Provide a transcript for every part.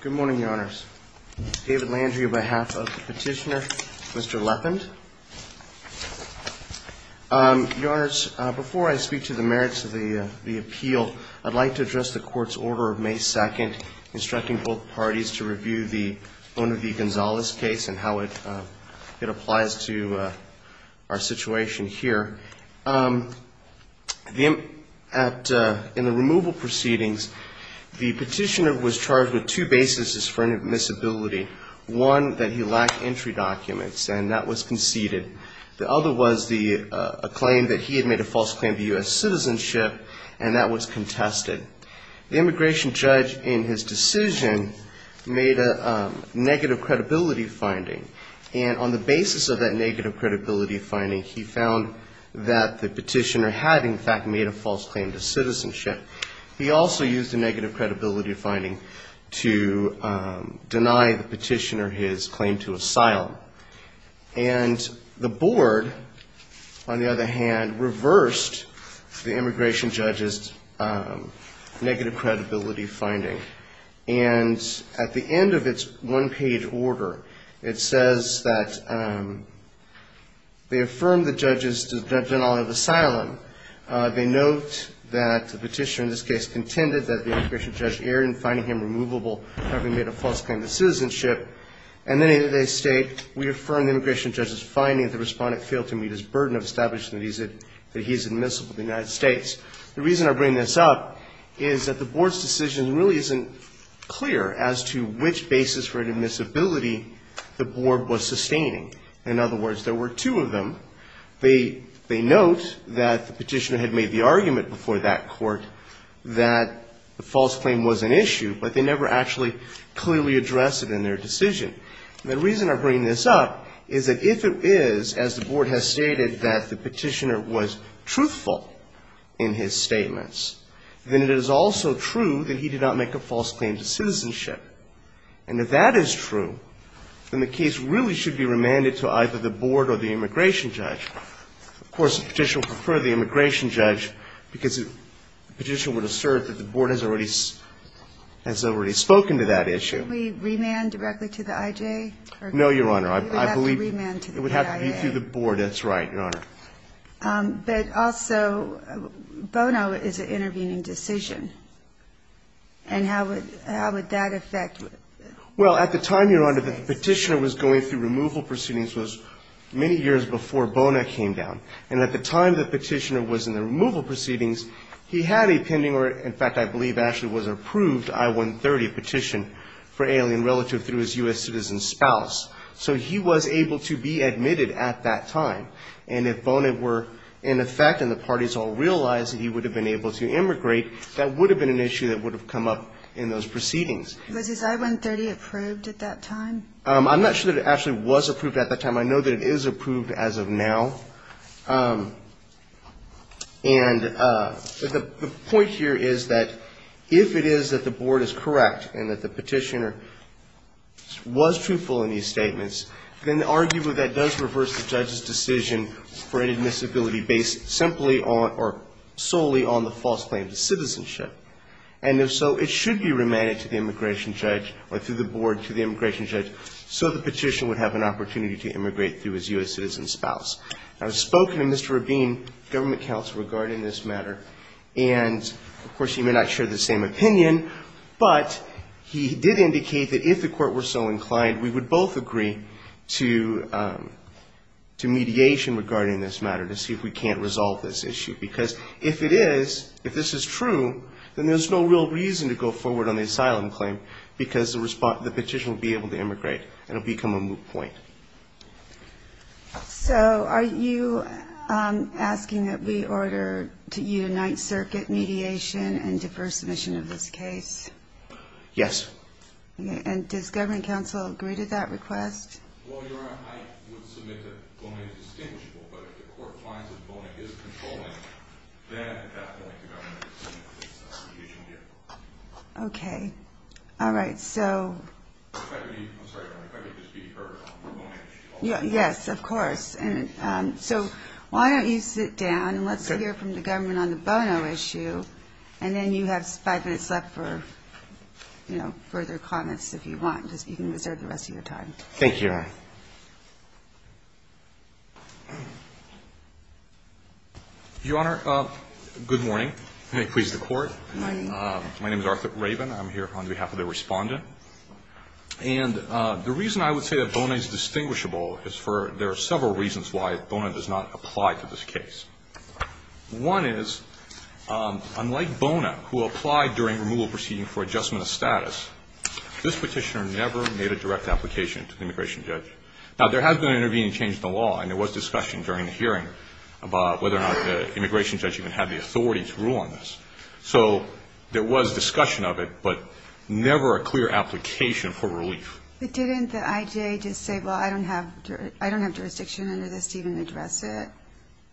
Good morning, your honors. David Landry on behalf of the petitioner, Mr. Leppind. Your honors, before I speak to the merits of the appeal, I'd like to address the court's order of May 2nd instructing both parties to review the Bonavie-Gonzalez case and how it applies to our situation here. In the removal proceedings, the petitioner was charged with two bases for inadmissibility. One, that he lacked entry documents, and that was conceded. The other was a claim that he had made a false claim to U.S. citizenship, and that was contested. The immigration judge, in his decision, made a negative credibility finding. And on the basis of that negative credibility finding, he found that the petitioner had, in fact, made a false claim to citizenship. He also used a negative credibility finding to deny the petitioner his claim to asylum. And the board, on the other hand, reversed the immigration judge's negative credibility finding. And at the end of its one-page order, it says that they affirmed the judge's denial of asylum. They note that the petitioner, in this case, contended that the immigration judge erred in finding him removable, having made a false claim to citizenship. And then they state, we affirm the immigration judge's finding that the respondent failed to meet his burden of establishing that he's admissible to the United States. The reason I bring this up is that the board's decision really isn't clear as to which basis for inadmissibility the board was sustaining. In other words, there were two of them. They note that the petitioner had made the argument before that court that the false claim was an issue, but they never actually clearly addressed it in their decision. The reason I bring this up is that if it is, as the board has stated, that the petitioner was truthful in his statements, then it is also true that he did not make a false claim to citizenship. And if that is true, then the case really should be remanded to either the board or the immigration judge. Of course, the petitioner would prefer the immigration judge because the petitioner would assert that the board has already spoken to that issue. Can't we remand directly to the I.J.? No, Your Honor. We would have to remand to the I.A. It would have to be through the board. That's right, Your Honor. But also, Bono is an intervening decision. And how would that affect? Well, at the time, Your Honor, that the petitioner was going through removal proceedings was many years before Bono came down. And at the time the petitioner was in the removal proceedings, he had a pending or, in fact, I believe actually was approved I-130 petition for alien relative through his U.S. citizen spouse. So he was able to be admitted at that time. And if Bono were in effect and the parties all realized that he would have been able to immigrate, that would have been an issue that would have come up in those proceedings. Was his I-130 approved at that time? I'm not sure that it actually was approved at that time. I know that it is approved as of now. And the point here is that if it is that the board is correct and that the petitioner was truthful in these statements, then arguably that does reverse the judge's decision for inadmissibility based simply on or solely on the false claim to citizenship. And if so, it should be remanded to the immigration judge or through the board to the immigration judge so the petitioner would have an opportunity to immigrate through his U.S. citizen spouse. I've spoken to Mr. Rabin, government counsel, regarding this matter. And, of course, he may not share the same opinion, but he did indicate that if the court were so inclined, we would both agree to mediation regarding this matter to see if we can't resolve this issue. Because if it is, if this is true, then there's no real reason to go forward on the asylum claim because the petitioner will be able to immigrate and it will become a moot point. So are you asking that we order to unite circuit mediation and defer submission of this case? Yes. And does government counsel agree to that request? Well, Your Honor, I would submit that bono is distinguishable. But if the court finds that bono is controlling, then at that point the government would submit this petition here. Okay. All right. So if I could just be heard on the bono issue. Yes, of course. So why don't you sit down and let's hear from the government on the bono issue, and then you have five minutes left for further comments if you want because you can reserve the rest of your time. Thank you, Your Honor. Your Honor, good morning. May it please the Court. Good morning. My name is Arthur Raven. I'm here on behalf of the Respondent. And the reason I would say that bono is distinguishable is for there are several reasons why bono does not apply to this case. One is, unlike bono, who applied during removal proceeding for adjustment of status, this Petitioner never made a direct application to the immigration judge. Now, there has been an intervening change in the law, and there was discussion during the hearing about whether or not the immigration judge even had the authority to rule on this. So there was discussion of it, but never a clear application for relief. But didn't the IJA just say, well, I don't have jurisdiction under this to even address it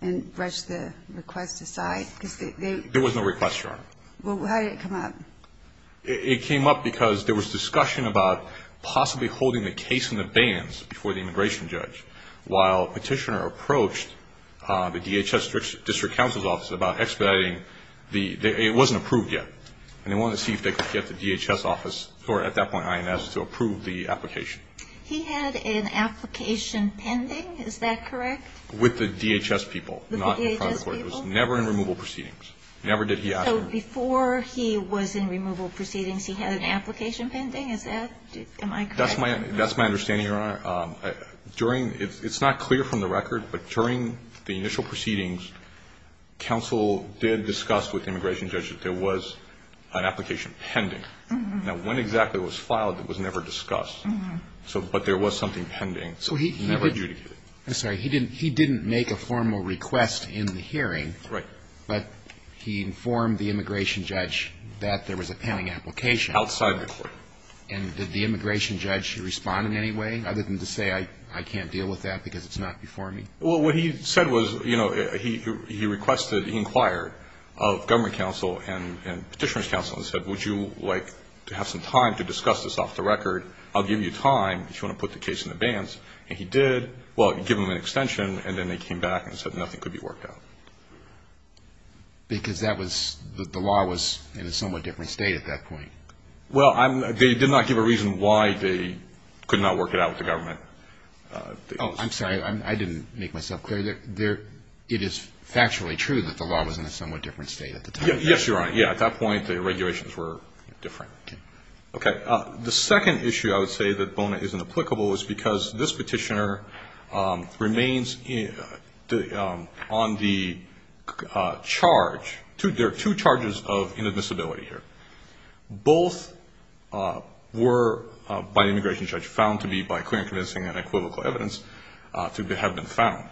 and brush the request aside? There was no request, Your Honor. Well, how did it come up? It came up because there was discussion about possibly holding the case in the bands before the immigration judge. While Petitioner approached the DHS District Counsel's Office about expediting, it wasn't approved yet. And they wanted to see if they could get the DHS office, or at that point INS, to approve the application. He had an application pending, is that correct? With the DHS people. The DHS people? Not in front of the Court. It was never in removal proceedings. Never did he ask for it. So before he was in removal proceedings, he had an application pending? Is that, am I correct? That's my understanding, Your Honor. During, it's not clear from the record, but during the initial proceedings, counsel did discuss with the immigration judge that there was an application pending. Now, when exactly it was filed, it was never discussed. But there was something pending. So he never adjudicated. I'm sorry. He didn't make a formal request in the hearing. Right. But he informed the immigration judge that there was a pending application. Outside the Court. And did the immigration judge respond in any way, other than to say I can't deal with that because it's not before me? Well, what he said was, you know, he requested, he inquired of government counsel and petitioner's counsel and said, would you like to have some time to discuss this off the record? I'll give you time if you want to put the case in the bands. And he did. Well, he gave them an extension, and then they came back and said nothing could be worked out. Because that was, the law was in a somewhat different state at that point. Well, they did not give a reason why they could not work it out with the government. Oh, I'm sorry. I didn't make myself clear. It is factually true that the law was in a somewhat different state at the time. Yes, you're right. Yeah, at that point the regulations were different. Okay. The second issue I would say that Bona is inapplicable is because this petitioner remains on the charge, there are two charges of inadmissibility here. Both were, by the immigration judge, found to be by clear and convincing and equivocal evidence to have been found.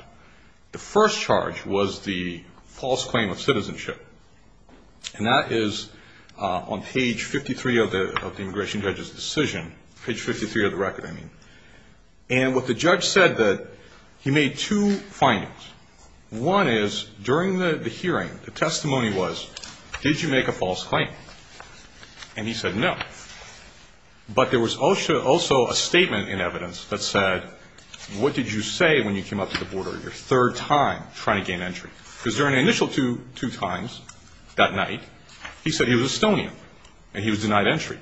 The first charge was the false claim of citizenship. And that is on page 53 of the immigration judge's decision, page 53 of the record, I mean. And what the judge said that he made two findings. One is during the hearing, the testimony was, did you make a false claim? And he said no. But there was also a statement in evidence that said, what did you say when you came up to the border your third time trying to gain entry? Because during the initial two times that night, he said he was Estonian and he was denied entry.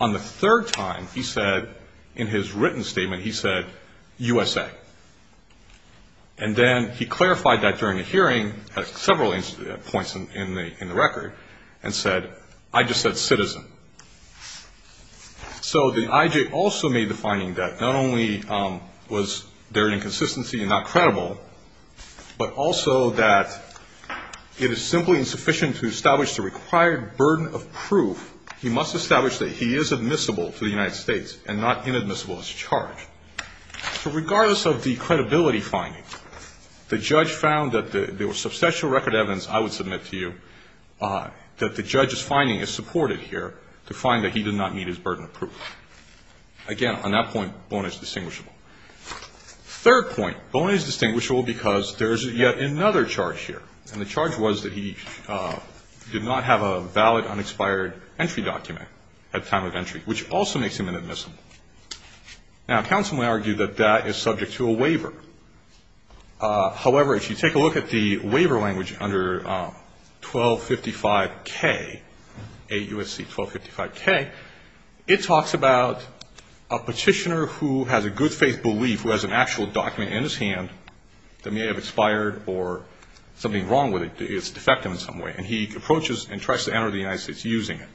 On the third time, he said in his written statement, he said USA. And then he clarified that during the hearing at several points in the record and said, I just said citizen. So the IJ also made the finding that not only was there an inconsistency and not credible, but also that it is simply insufficient to establish the required burden of proof. He must establish that he is admissible to the United States and not inadmissible as a charge. So regardless of the credibility finding, the judge found that there was substantial record evidence, I would submit to you, that the judge's finding is supported here to find that he did not meet his burden of proof. Again, on that point, Boney is distinguishable. Third point, Boney is distinguishable because there is yet another charge here. And the charge was that he did not have a valid unexpired entry document at the time of entry, which also makes him inadmissible. Now, counsel may argue that that is subject to a waiver. However, if you take a look at the waiver language under 1255K, 8 U.S.C. 1255K, it talks about a petitioner who has a good faith belief who has an actual document in his hand that may have expired or something wrong with it, it's defective in some way, and he approaches and tries to enter the United States using it.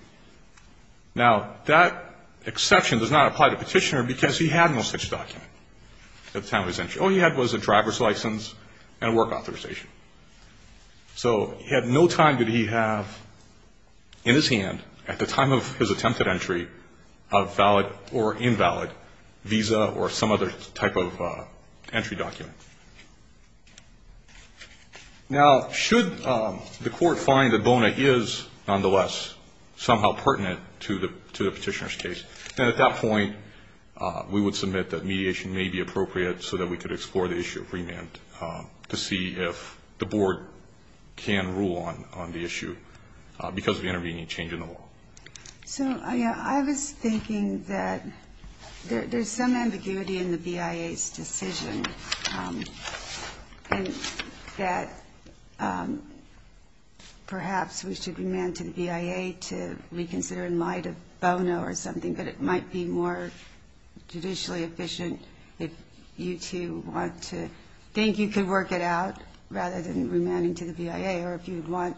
Now, that exception does not apply to the petitioner because he had no such document at the time of his entry. All he had was a driver's license and a work authorization. So at no time did he have in his hand at the time of his attempted entry a valid or invalid visa or some other type of entry document. Now, should the court find that Boney is, nonetheless, somehow pertinent to the petitioner's case, then at that point we would submit that mediation may be appropriate so that we could explore the issue of remand to see if the board can rule on the issue because of the intervening change in the law. So I was thinking that there's some ambiguity in the BIA's decision and that perhaps we should remand to the BIA to reconsider in light of Bono or something, but it might be more judicially efficient if you two want to think you could work it out rather than remanding to the BIA or if you'd want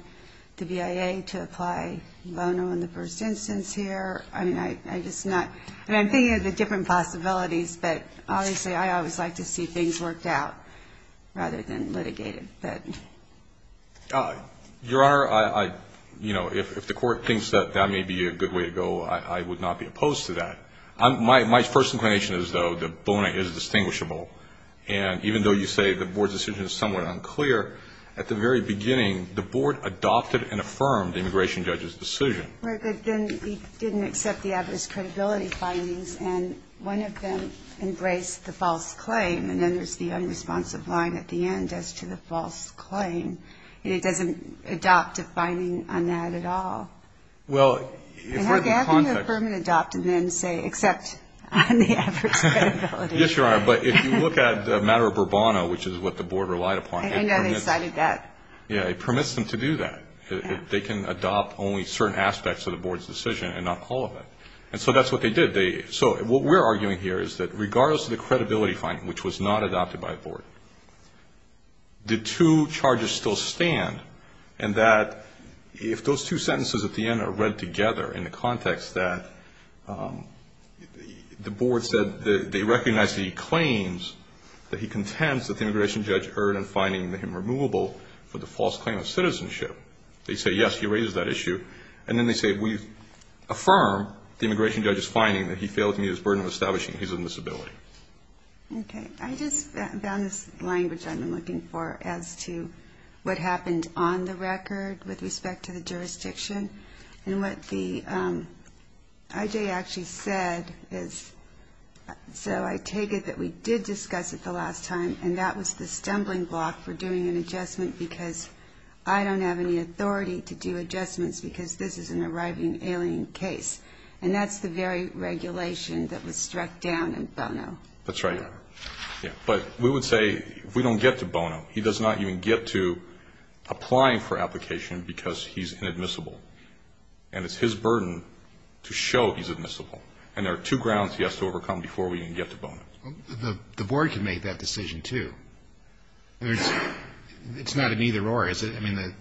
the BIA to apply Bono in the first instance here. I mean, I'm just not – I mean, I'm thinking of the different possibilities, but obviously I always like to see things worked out rather than litigated. Your Honor, I – you know, if the court thinks that that may be a good way to go, I would not be opposed to that. My first inclination is, though, that Boney is distinguishable, and even though you say the board's decision is somewhat unclear, at the very beginning the board adopted and affirmed the immigration judge's decision. Right, but then we didn't accept the evidence credibility findings, and one of them embraced the false claim, and then there's the unresponsive line at the end as to the false claim. And it doesn't adopt a finding on that at all. Well, if we're in the context – And how can you affirm and adopt and then say, except on the average credibility? Yes, Your Honor, but if you look at the matter of Bourbon, which is what the board relied upon – I didn't know they cited that. Yeah, it permits them to do that. They can adopt only certain aspects of the board's decision and not all of it. And so that's what they did. So what we're arguing here is that regardless of the credibility finding, which was not adopted by a board, the two charges still stand, and that if those two sentences at the end are read together in the context that the board said they recognize that he claims that he contends that the immigration judge erred in finding him removable for the false claim of citizenship. They say, yes, he raises that issue, and then they say we affirm the immigration judge's finding that he failed to meet his burden of establishing his own disability. Okay. I just found this language I've been looking for as to what happened on the record with respect to the jurisdiction. And what the – I.J. actually said is – so I take it that we did discuss it the last time, and that was the stumbling block for doing an adjustment because I don't have any authority to do adjustments because this is an arriving alien case. And that's the very regulation that was struck down in Bono. That's right. But we would say if we don't get to Bono, he does not even get to applying for application because he's inadmissible. And it's his burden to show he's admissible. And there are two grounds he has to overcome before we even get to Bono. The board can make that decision, too. It's not an either-or, is it? I mean,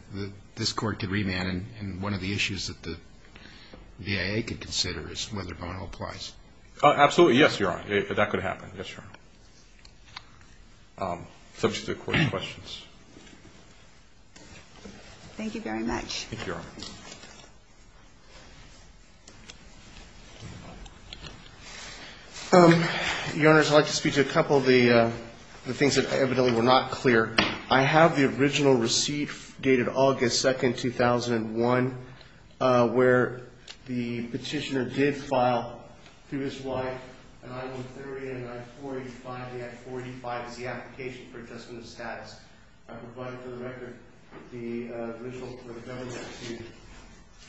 this Court could remand, and one of the issues that the V.I.A. could consider is whether Bono applies. Absolutely. Yes, Your Honor. That could happen. Yes, Your Honor. Subject to the Court's questions. Thank you very much. Thank you, Your Honor. Your Honors, I'd like to speak to a couple of the things that evidently were not clear. I have the original receipt dated August 2, 2001, where the petitioner did file through his wife an I-130 and an I-485. The I-485 is the application for adjustment of status. I provided for the record the original for the government to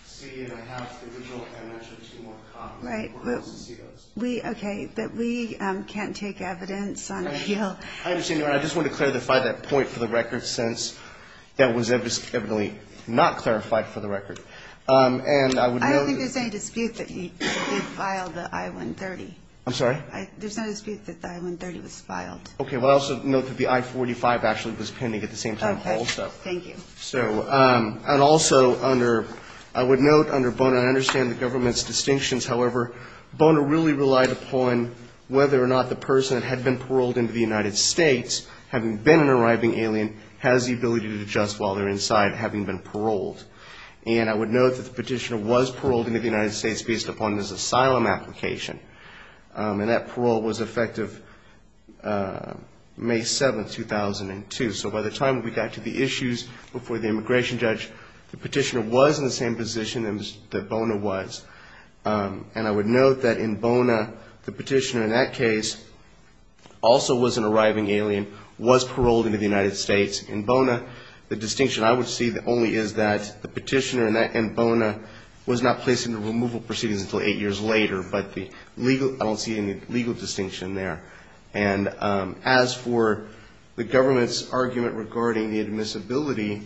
see, and I have the original and actually two more copies. Right. Okay. But we can't take evidence on appeal. I understand, Your Honor. I just want to clarify that point for the record, since that was evidently not clarified for the record. I don't think there's any dispute that he filed the I-130. I'm sorry? There's no dispute that the I-130 was filed. Okay. Well, I also note that the I-485 actually was pending at the same time also. Okay. Thank you. And also, I would note under Bono, I understand the government's distinctions. However, Bono really relied upon whether or not the person that had been paroled into the United States, having been an arriving alien, has the ability to adjust while they're inside, having been paroled. And I would note that the petitioner was paroled into the United States based upon his asylum application, and that parole was effective May 7, 2002. So by the time we got to the issues before the immigration judge, the petitioner was in the same position that Bono was. And I would note that in Bono, the petitioner in that case also was an arriving alien, was paroled into the United States. In Bono, the distinction I would see only is that the petitioner in Bono was not placed into removal proceedings until eight years later, but I don't see any legal distinction there. And as for the government's argument regarding the admissibility,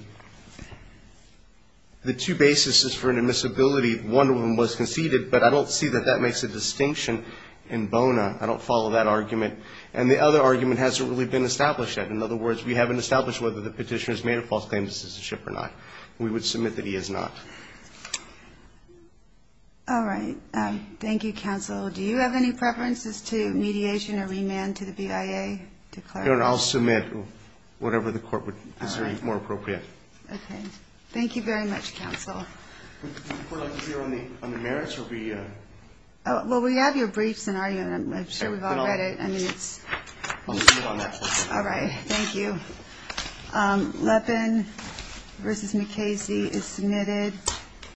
the two bases for an admissibility, one of them was conceded, but I don't see that that makes a distinction in Bono. I don't follow that argument. And the other argument hasn't really been established yet. In other words, we haven't established whether the petitioner has made a false claim of citizenship or not. We would submit that he has not. All right. Thank you, counsel. Do you have any preferences to mediation or remand to the BIA? Your Honor, I'll submit whatever the court would consider more appropriate. Okay. Thank you very much, counsel. Would the court like to hear on the merits or we? Well, we have your briefs in our unit. I'm sure we've all read it. I mean, it's. I'll just move on that. All right. Thank you. Leppin v. McKaysey is submitted.